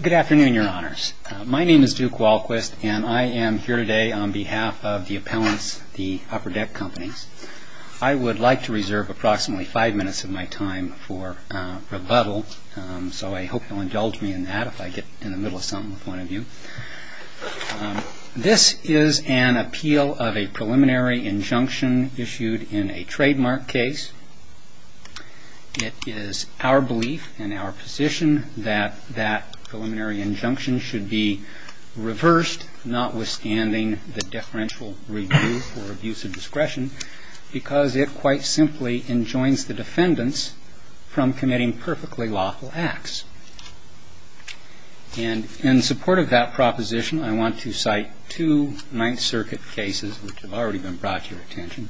Good afternoon, Your Honors. My name is Duke Walquist, and I am here today on behalf of the appellants, the Upper Deck Companies. I would like to reserve approximately five minutes of my time for rebuttal, so I hope you'll indulge me in that if I get in the middle of something with one of you. This is an appeal of a preliminary injunction issued in a trademark case. It is our belief and our position that that preliminary injunction should be reversed, notwithstanding the deferential review for abuse of discretion, because it quite simply enjoins the defendants from committing perfectly lawful acts. And in support of that proposition, I want to cite two Ninth Circuit cases which have already been brought to your attention,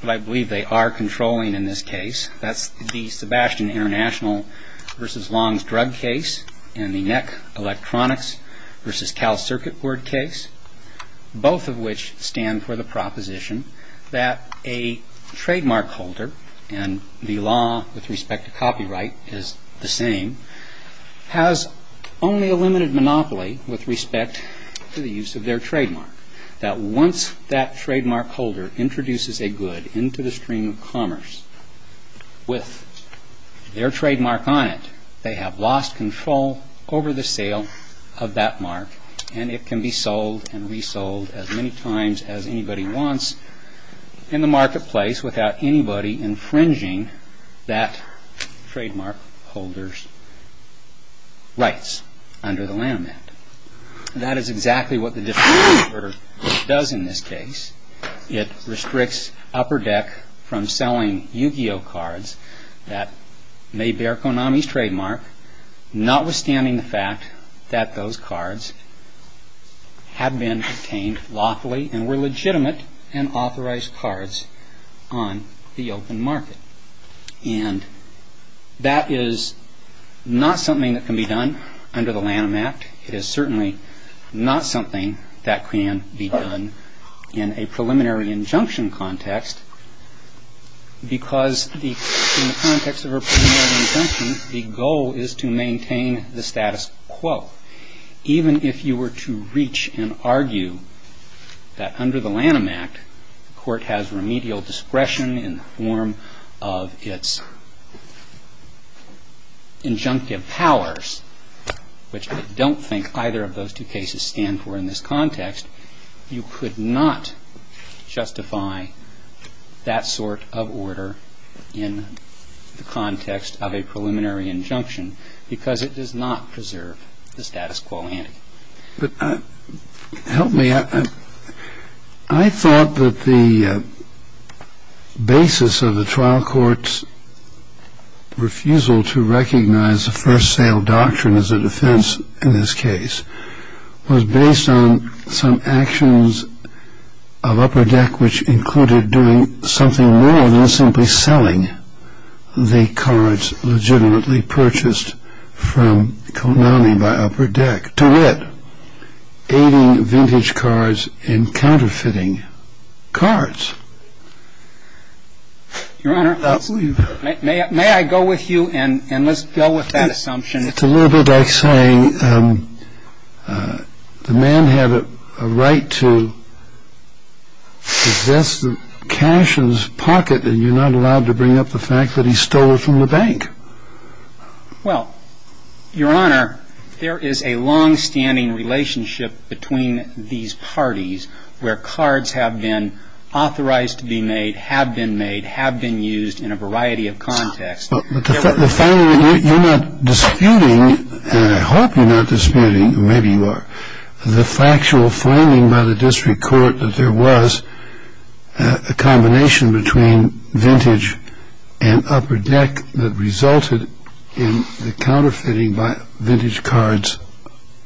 but I believe they are controlling in this case. That's the Sebastian International v. Long's drug case and the NEC Electronics v. Cal Circuit Board case, both of which stand for the proposition that a trademark holder, and the law with respect to copyright is the same, has only a limited monopoly with respect to the use of their trademark. That once that is a good into the stream of commerce with their trademark on it, they have lost control over the sale of that mark, and it can be sold and resold as many times as anybody wants in the marketplace without anybody infringing that trademark holder's rights under the Land Amendment. That is exactly what the deferential order does in this case. It restricts Upper Deck from selling Yu-Gi-Oh cards that may bear Konami's trademark, notwithstanding the fact that those cards have been obtained lawfully and were legitimate and authorized cards on the open market. And that is not something that can be done under the Land Amendment. It is certainly not something that can be done in a preliminary injunction context, because in the context of a preliminary injunction, the goal is to maintain the status quo. Even if you were to reach and argue that under the Lanham Act, the Court has remedial discretion in the form of its injunctive powers, which I don't think the Court has the discretion to do, and I don't think the Court has the discretion to do that. But if you were to reach and argue that either of those two cases stand for in this context, you could not justify that sort of order in the context of a preliminary injunction, because it does not preserve the status quo. But help me. I thought that the basis of the trial court's refusal to recognize the first-sale doctrine as a defense in this case was based on some actions of Upper Deck which included doing something more than simply selling the cards legitimately purchased from Konami by being the beneficiary of a bank to the extent they were able to convince the bank to retainer them from taking a loan on purpose. And it continued to be a substitute for being successful. And it was that. That is why I quite frankly believe that it does. MALE SPEAKER continues. You were reluctant expressed that there will be a divisions. Objection. agon. The fact that you're not disputing, and I hope you're not disputing, or maybe you are, the factual framing by the district court that there was a combination between vintage and upper deck that resulted in the counterfeiting by vintage cards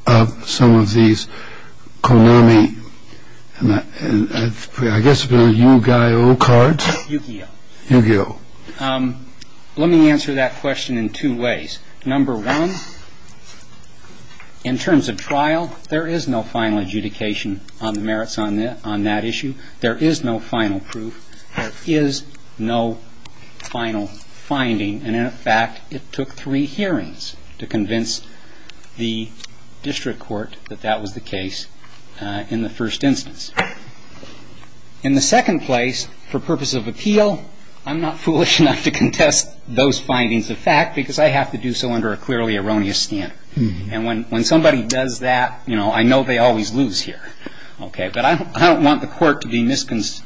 of some of these Konami, I guess it was Yu-Gi-Oh cards. Yu-Gi-Oh. Yu-Gi-Oh. Let me answer that question in two ways. Number one, in terms of trial, there is no final adjudication on the merits on that issue. There is no final proof. There is no final finding. And in fact, it took three hearings to convince the district court that that was the case in the first instance. In the second place, for purpose of appeal, I'm not foolish enough to contest those findings of fact because I have to do so under a clearly erroneous standard. And when somebody does that, you know, I know they always lose here. Okay. But I don't want the court to misunderstand.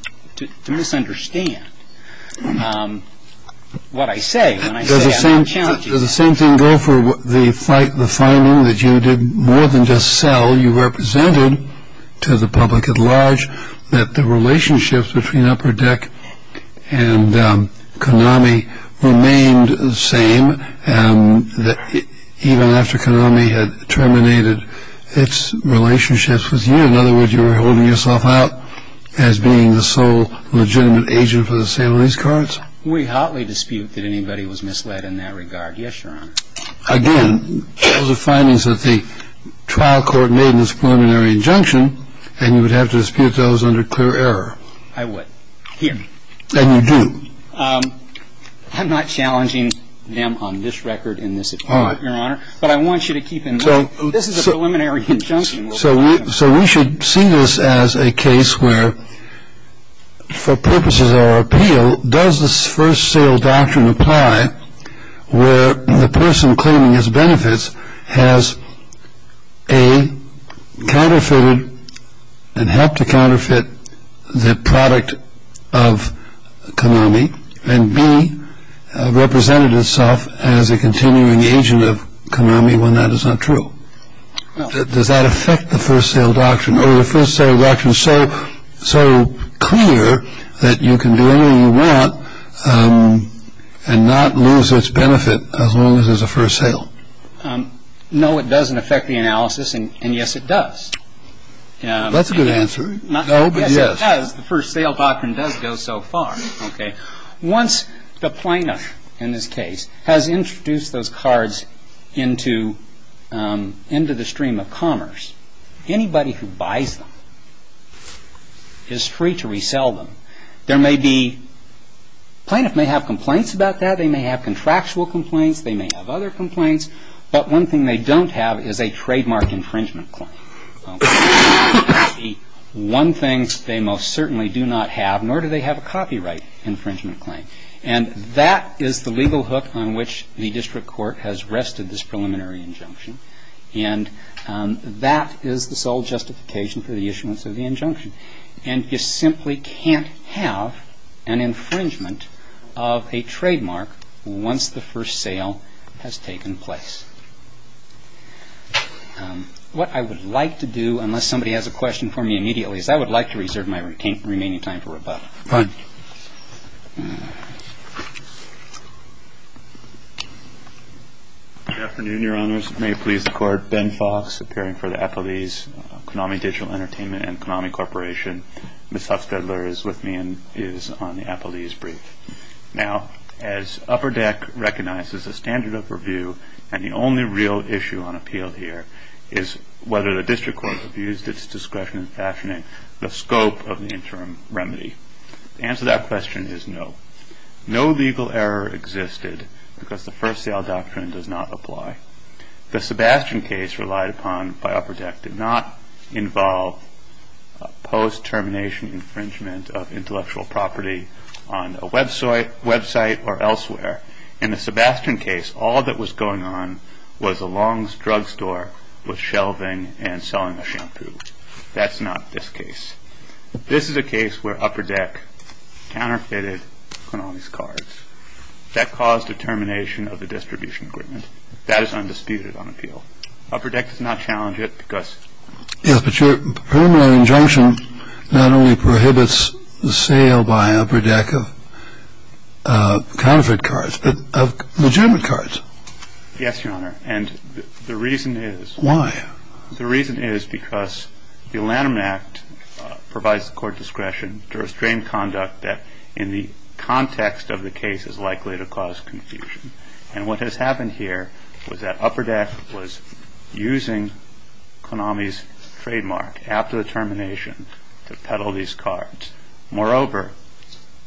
What I say, when I say I have no challenges. Does the same thing go for the finding that you did more than just sell? You represented to the public at large that the relationships between upper deck and Konami remained the same even after Konami had terminated its relationships with you. In other words, you were holding yourself out as being the sole legitimate agent for the sale of these cards? We hotly dispute that anybody was misled in that regard. Yes, Your Honor. Again, those are findings that the trial court made in its preliminary injunction, and you would have to dispute those under clear error. I would. Here. And you do. I'm not challenging them on this record in this appeal, Your Honor. But I want you to keep in mind, this is a preliminary injunction. So we should see this as a case where, for purposes of our appeal, does this first sale doctrine apply where the person claiming his benefits has A, counterfeited and helped to counterfeit the product of Konami and B, represented itself as a continuing agent of Konami when that is not true? Does that affect the first sale doctrine? Or is the first sale doctrine so clear that you can do anything you want and not lose its benefit as long as there's a first sale? No, it doesn't affect the analysis, and yes, it does. That's a good answer. No, but yes. Yes, it does. The first sale doctrine does go so far. Once the plaintiff, in this case, has introduced those cards into the stream of commerce, anybody who buys them is free to resell them. There may be plaintiff may have complaints about that. They may have contractual complaints. They may have other complaints. But one thing they don't have is a trademark infringement claim. One thing they most certainly do not have, nor do they have a copyright infringement claim. And that is the legal hook on which the district court has rested this preliminary injunction. And that is the sole justification for the issuance of the injunction. And you simply can't have an infringement of a trademark once the first sale has taken place. What I would like to do, unless somebody has a question for me immediately, is I would like to reserve my remaining time for rebuttal. Good afternoon, your honors. May it please the court. Ben Fox, appearing for the Apple Lease, Konami Digital Entertainment and Konami Corporation. Ms. Hufstedler is with me and is on the Apple Lease brief. Now as Upper Deck recognizes the standard of review and the only real issue on appeal here is whether the district court has used its discretion in fashioning the scope of an interim remedy. The answer to that question is no. No legal error existed because the first sale doctrine does not apply. The Sebastian case relied upon by Upper Deck did not involve a post-termination infringement of intellectual property on a website or elsewhere. In the Sebastian case, all that was going on was a longs drug store was shelving and selling a shampoo. That's not this case. This is a case where Upper Deck counterfeited Konami's cards. That caused a termination of the distribution agreement. That is undisputed on appeal. Upper Deck does not challenge it because... Yes, but your permanent injunction not only prohibits the sale by Upper Deck of counterfeit cards, but of legitimate cards. Yes, your honor. And the reason is... Why? The reason is because the Lanham Act provides the court discretion to restrain conduct that in the context of the case is likely to cause confusion. And what has happened here is that Upper Deck was using Konami's trademark after the termination to peddle these cards. Moreover,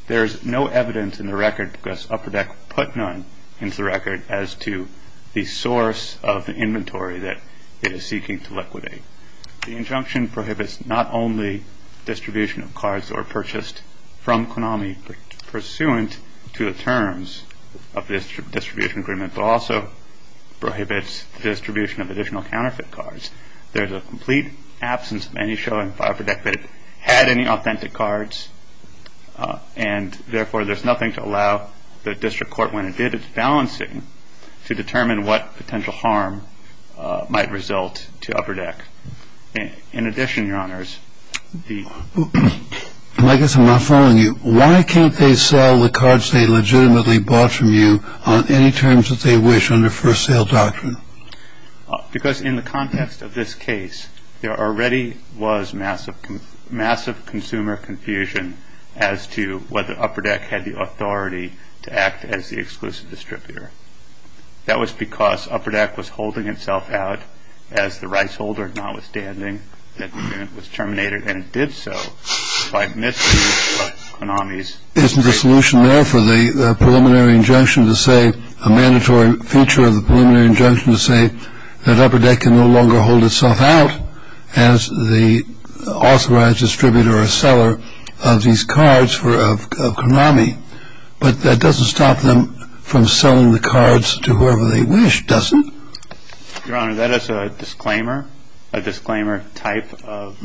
there's no evidence in the record because Upper Deck put none into the record as to the source of the inventory that it is seeking to liquidate. The injunction prohibits not only distribution of cards that were purchased from Konami pursuant to the terms of this distribution agreement, but also prohibits distribution of additional counterfeit cards. There's a complete absence of any showing that Upper Deck had any authentic cards and therefore there's nothing to allow the district court, when it did its balancing, to determine what potential harm might result to Upper Deck. In addition, your honors, the... I guess I'm not following you. Why can't they sell the cards they legitimately bought from you on any terms that they wish under first sale doctrine? Because in the context of this case, there already was massive consumer confusion as to whether Upper Deck had the authority to act as the exclusive distributor. That was because Upper Deck was holding itself out as the rights holder, notwithstanding that it was terminated, and it did so by misuse of Konami's... Isn't the solution there for the preliminary injunction to say, a mandatory feature of the preliminary injunction to say, that Upper Deck can no longer hold itself out as the exclusive distributor of Konami, but that doesn't stop them from selling the cards to whoever they wish, does it? Your honor, that is a disclaimer, a disclaimer type of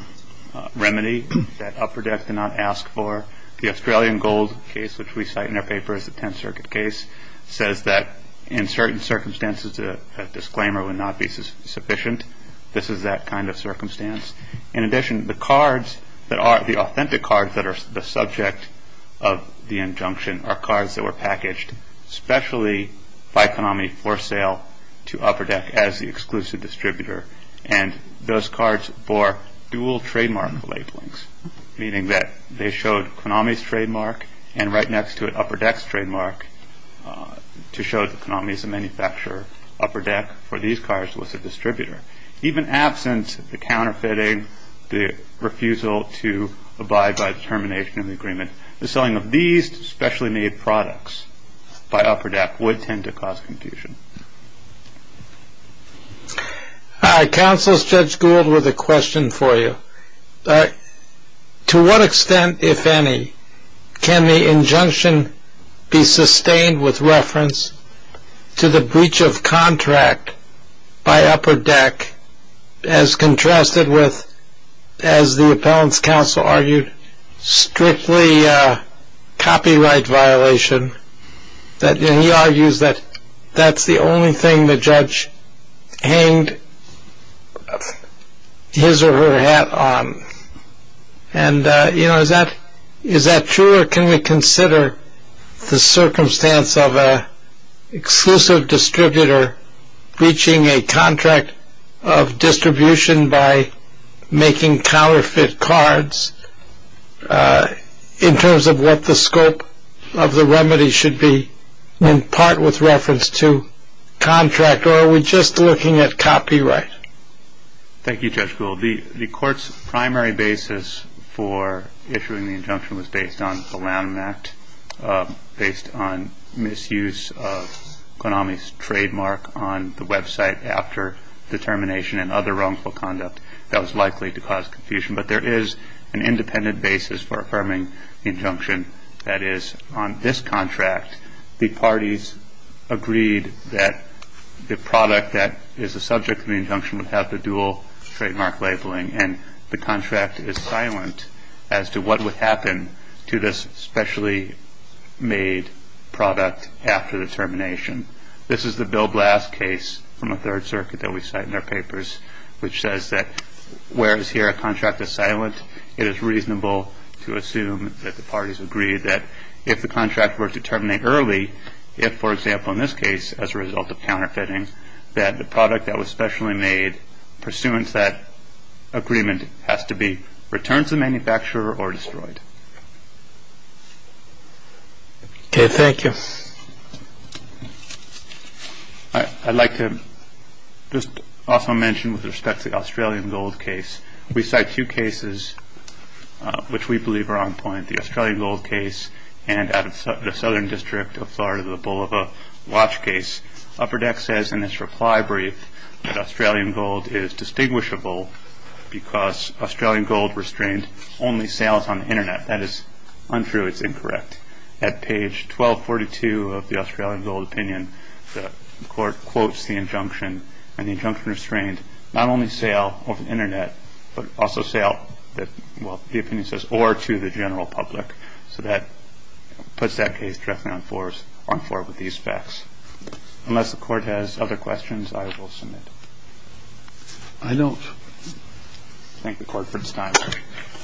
remedy that Upper Deck did not ask for. The Australian Gold case, which we cite in our paper as the Tenth Circuit case, says that in certain circumstances, a disclaimer would not be sufficient. This is that kind of circumstance. In addition, the cards that are, the authentic cards that are the subject of the injunction are cards that were packaged specially by Konami for sale to Upper Deck as the exclusive distributor, and those cards bore dual trademark labelings, meaning that they showed Konami's trademark, and right next to it, Upper Deck's trademark, to show that Konami is a manufacturer. Upper Deck, for these cards, was a distributor. Even absent the counterfeiting, the refusal to abide by the termination of the agreement, the selling of these specially made products by Upper Deck would tend to cause confusion. All right. Counsel Judge Gould with a question for you. To what extent, if any, can the injunction be sustained with reference to the breach of contract by Upper Deck as contrasted with, as the appellant's counsel argued, strictly copyright violation? He argues that that's the only thing the judge hanged his or her hat on. And, you know, is that true, or can we consider the circumstance of an exclusive distributor breaching a contract of distribution by making counterfeit cards in terms of what the scope of the remedy should be in part with reference to contract, or are we just looking at copyright? Thank you, Judge Gould. The court's primary basis for issuing the injunction was based on the Lanham Act, based on misuse of Konami's trademark on the website after the termination and other wrongful conduct that was likely to cause confusion. But there is an independent basis for affirming the injunction. That is, on this contract, the parties agreed that the product that is the subject of the injunction would have the dual trademark labeling, and the contract is silent as to what would happen to this specially made product after the termination. This is the Bill Blast case from the Third Circuit that we cite in our papers, which says that whereas here a contract is silent, it is reasonable to assume that the parties agreed that if the contract were to terminate early, if, for example, in this case, as a pursuant to that agreement, it has to be returned to the manufacturer or destroyed. Okay, thank you. I'd like to just also mention with respect to the Australian Gold case. We cite two cases which we believe are on point, the Australian Gold case and the Southern District of Florida, the Bulova Watch case. Upper Deck says in its reply brief that Australian Gold is distinguishable because Australian Gold restrained only sales on the Internet. That is untrue. It's incorrect. At page 1242 of the Australian Gold opinion, the court quotes the injunction, and the injunction restrained not only sale over the Internet, but also sale, well, the opinion says, or to the general public. So that puts that case directly on four with these facts. Unless the court has other questions, I will submit. I don't. Thank the court for its time.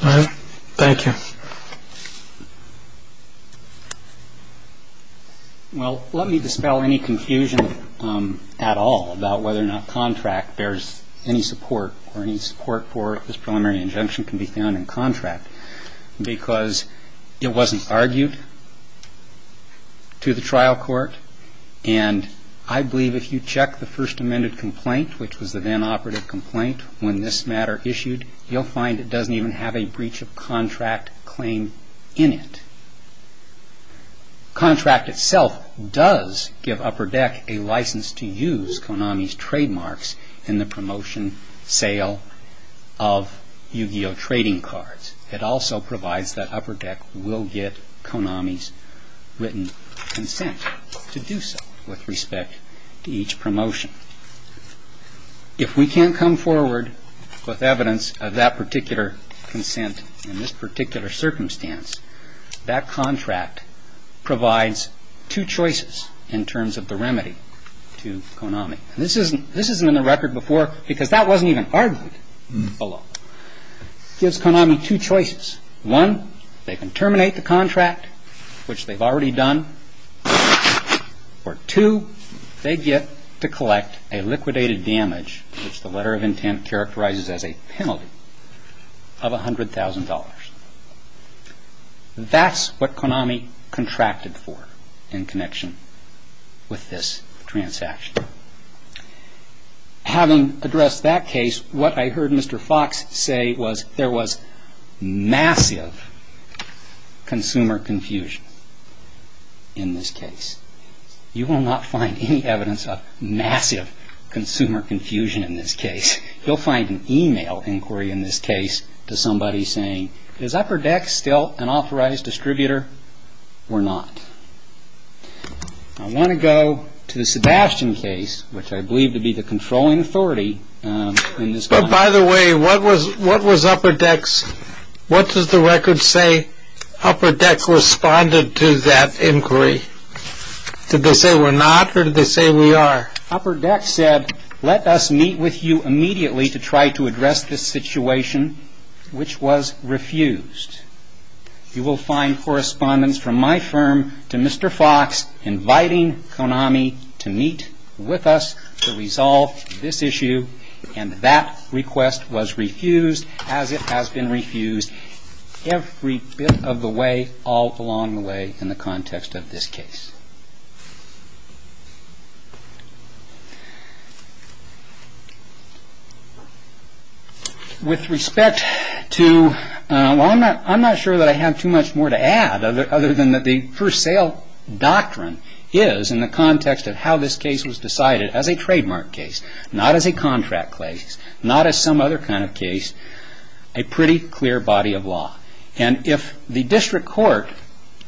All right. Thank you. Well, let me dispel any confusion at all about whether or not contract bears any support for this preliminary injunction can be found in contract, because it wasn't argued to the trial court, and I believe if you check the first amended complaint, which was the then operative complaint when this matter issued, you'll find it doesn't even have a breach of contract claim in it. Contract itself does give Upper Deck a license to use Konami's trademarks in the promotion and sale of Yu-Gi-Oh! trading cards. It also provides that Upper Deck will get Konami's written consent to do so with respect to each promotion. If we can't come forward with evidence of that particular consent in this particular circumstance, that contract provides two choices in terms of the remedy to Konami. This isn't in the record before, because that wasn't even argued below. It gives Konami two choices. One, they can terminate the contract, which they've already done, or two, they get to collect a liquidated damage, which the letter of intent characterizes as a penalty of $100,000. That's what Konami contracted for in connection with this transaction. Having addressed that case, what I heard Mr. Fox say was there was massive consumer confusion in this case. You will not find any evidence of massive consumer confusion in this case. You'll find an email inquiry in this case to somebody saying, is Upper Deck still an authorized distributor? We're not. I want to go to the Sebastian case, which I believe to be the controlling authority. By the way, what was Upper Deck's, what does the record say Upper Deck responded to that inquiry? Did they say we're not, or did they say we are? Upper Deck said, let us meet with you immediately to try to address this situation, which was refused. You will find correspondence from my firm to Mr. Fox inviting Konami to meet with us to resolve this issue, and that request was refused as it has been refused every bit of the way all along the way in the context of this case. With respect to, I'm not sure that I have too much more to add other than the first sale doctrine is in the context of how this case was decided as a trademark case, not as a contract case, not as some other kind of case, a pretty clear body of law. And if the district court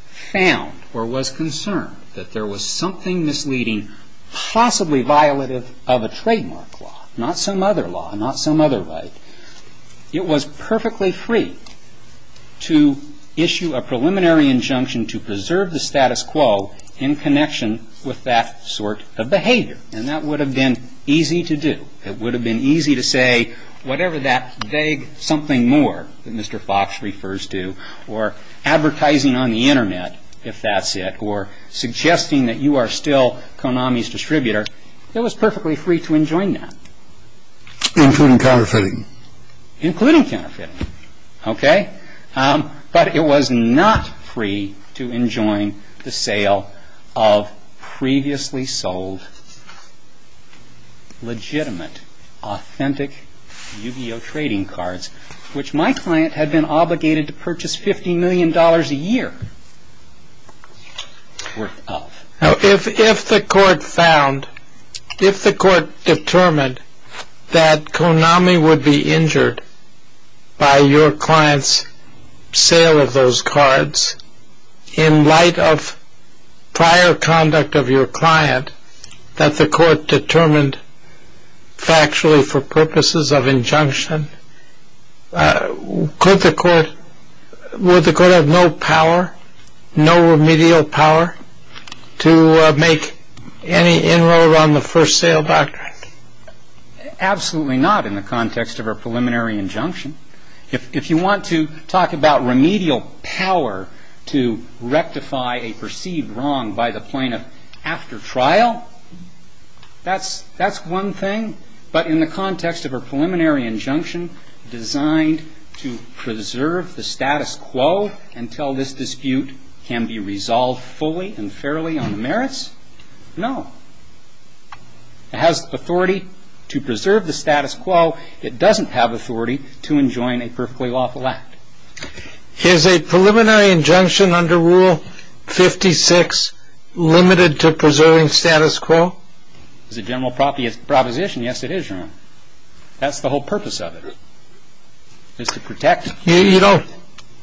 found or was concerned that there was something misleading, possibly violative of a trademark law, not some other law, not some other right, it was perfectly free to issue a preliminary injunction to preserve the status quo in connection with that sort of behavior. And that would have been easy to do. It would have been easy to say, whatever that vague something more that Mr. Fox refers to, or advertising on the Internet, if that's it, or suggesting that you are still Konami's distributor, it was perfectly free to enjoin that. Including counterfeiting. Including counterfeiting. Okay? But it was not free to enjoin the sale of previously sold legitimate, authentic Yu-Gi-Oh! trading cards, which my client had been obligated to purchase $50 million a year worth of. If the court found, if the court determined that Konami would be injured by your client's sale of those cards, in light of prior conduct of your client that the court determined factually for purposes of injunction, could the court, would the court have no power, no remedial power to make any inroad on the first sale back? Absolutely not in the context of a preliminary injunction. If you want to talk about remedial power to rectify a perceived wrong by the plaintiff after trial, that's one thing. But in the context of a preliminary injunction designed to preserve the status quo until this dispute can be resolved fully and fairly on the merits, no. It has authority to preserve the status quo. It doesn't have authority to enjoin a perfectly lawful act. Is a preliminary injunction under Rule 56 limited to preserving status quo? It's a general proposition. Yes, it is, Your Honor. That's the whole purpose of it, is to protect.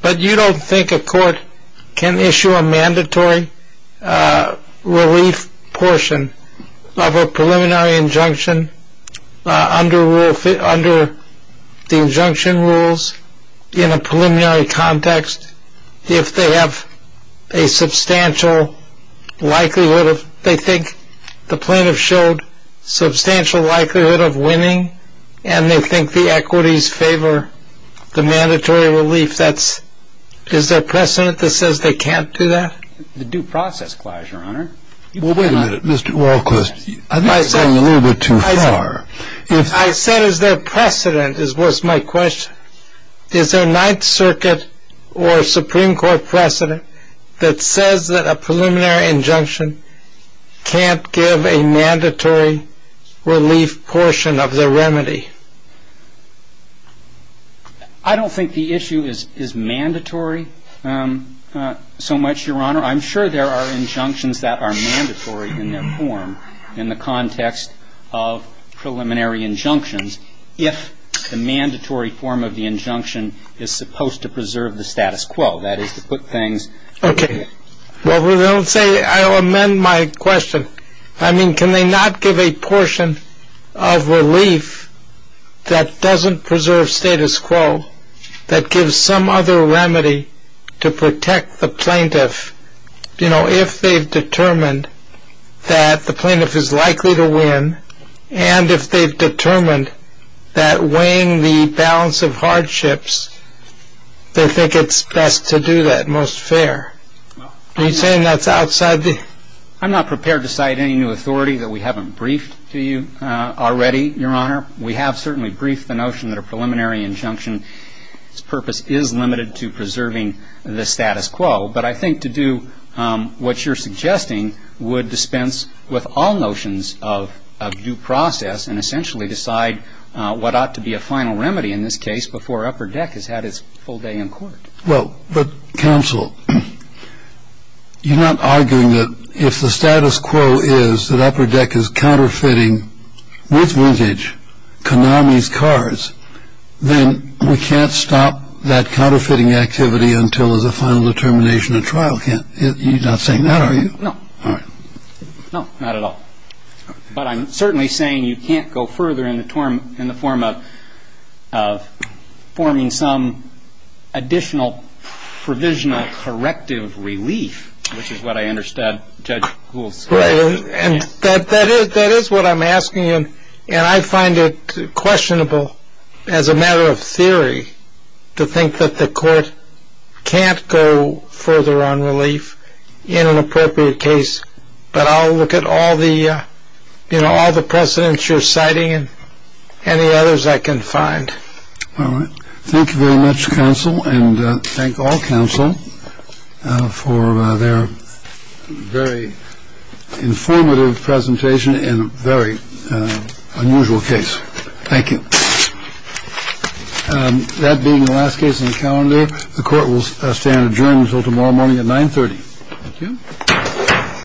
But you don't think a court can issue a mandatory relief portion of a preliminary injunction under the injunction rules in a preliminary context if they have a substantial likelihood of, they think the plaintiff showed substantial likelihood of winning and they think the equities favor the mandatory relief? That's, is there precedent that says they can't do that? The due process clause, Your Honor. Well, wait a minute, Mr. Walquist. I think you're going a little bit too far. I said, is there precedent, was my question. Is there a Ninth Circuit or Supreme Court precedent that says that a preliminary injunction can't give a mandatory relief portion of the injunction? I don't think the issue is mandatory so much, Your Honor. I'm sure there are injunctions that are mandatory in their form in the context of preliminary injunctions if the mandatory form of the injunction is supposed to preserve the status quo, that is, to put things in place. Okay. Well, let's say, I'll amend my question. I mean, can they not give a portion of relief that doesn't preserve status quo, that gives some other remedy to protect the plaintiff, you know, if they've determined that the plaintiff is likely to win and if they've determined that weighing the balance of hardships, they think it's best to do that, most fair. Are you saying that's outside the... Already, Your Honor. We have certainly briefed the notion that a preliminary injunction's purpose is limited to preserving the status quo, but I think to do what you're suggesting would dispense with all notions of due process and essentially decide what ought to be a final remedy in this case before Upper Deck has had its full day in court. Well, but counsel, you're not arguing that if the status quo is that Upper Deck is counterfeiting with Vintage, Konami's cars, then we can't stop that counterfeiting activity until there's a final determination at trial. You're not saying that, are you? No, not at all. But I'm certainly saying you can't go further in the form of forming some additional provisional corrective relief, which is what I understand Judge Kuhl's saying. And that is what I'm asking you, and I find it questionable as a matter of theory to think that the court can't go further on relief in an appropriate case. But I'll look at all the precedents you're citing and any others I can find. All right. Thank you very much, counsel, and thank all counsel for their very thoughtful and informative presentation in a very unusual case. Thank you. That being the last case on the calendar, the court will stand adjourned until tomorrow morning at 930.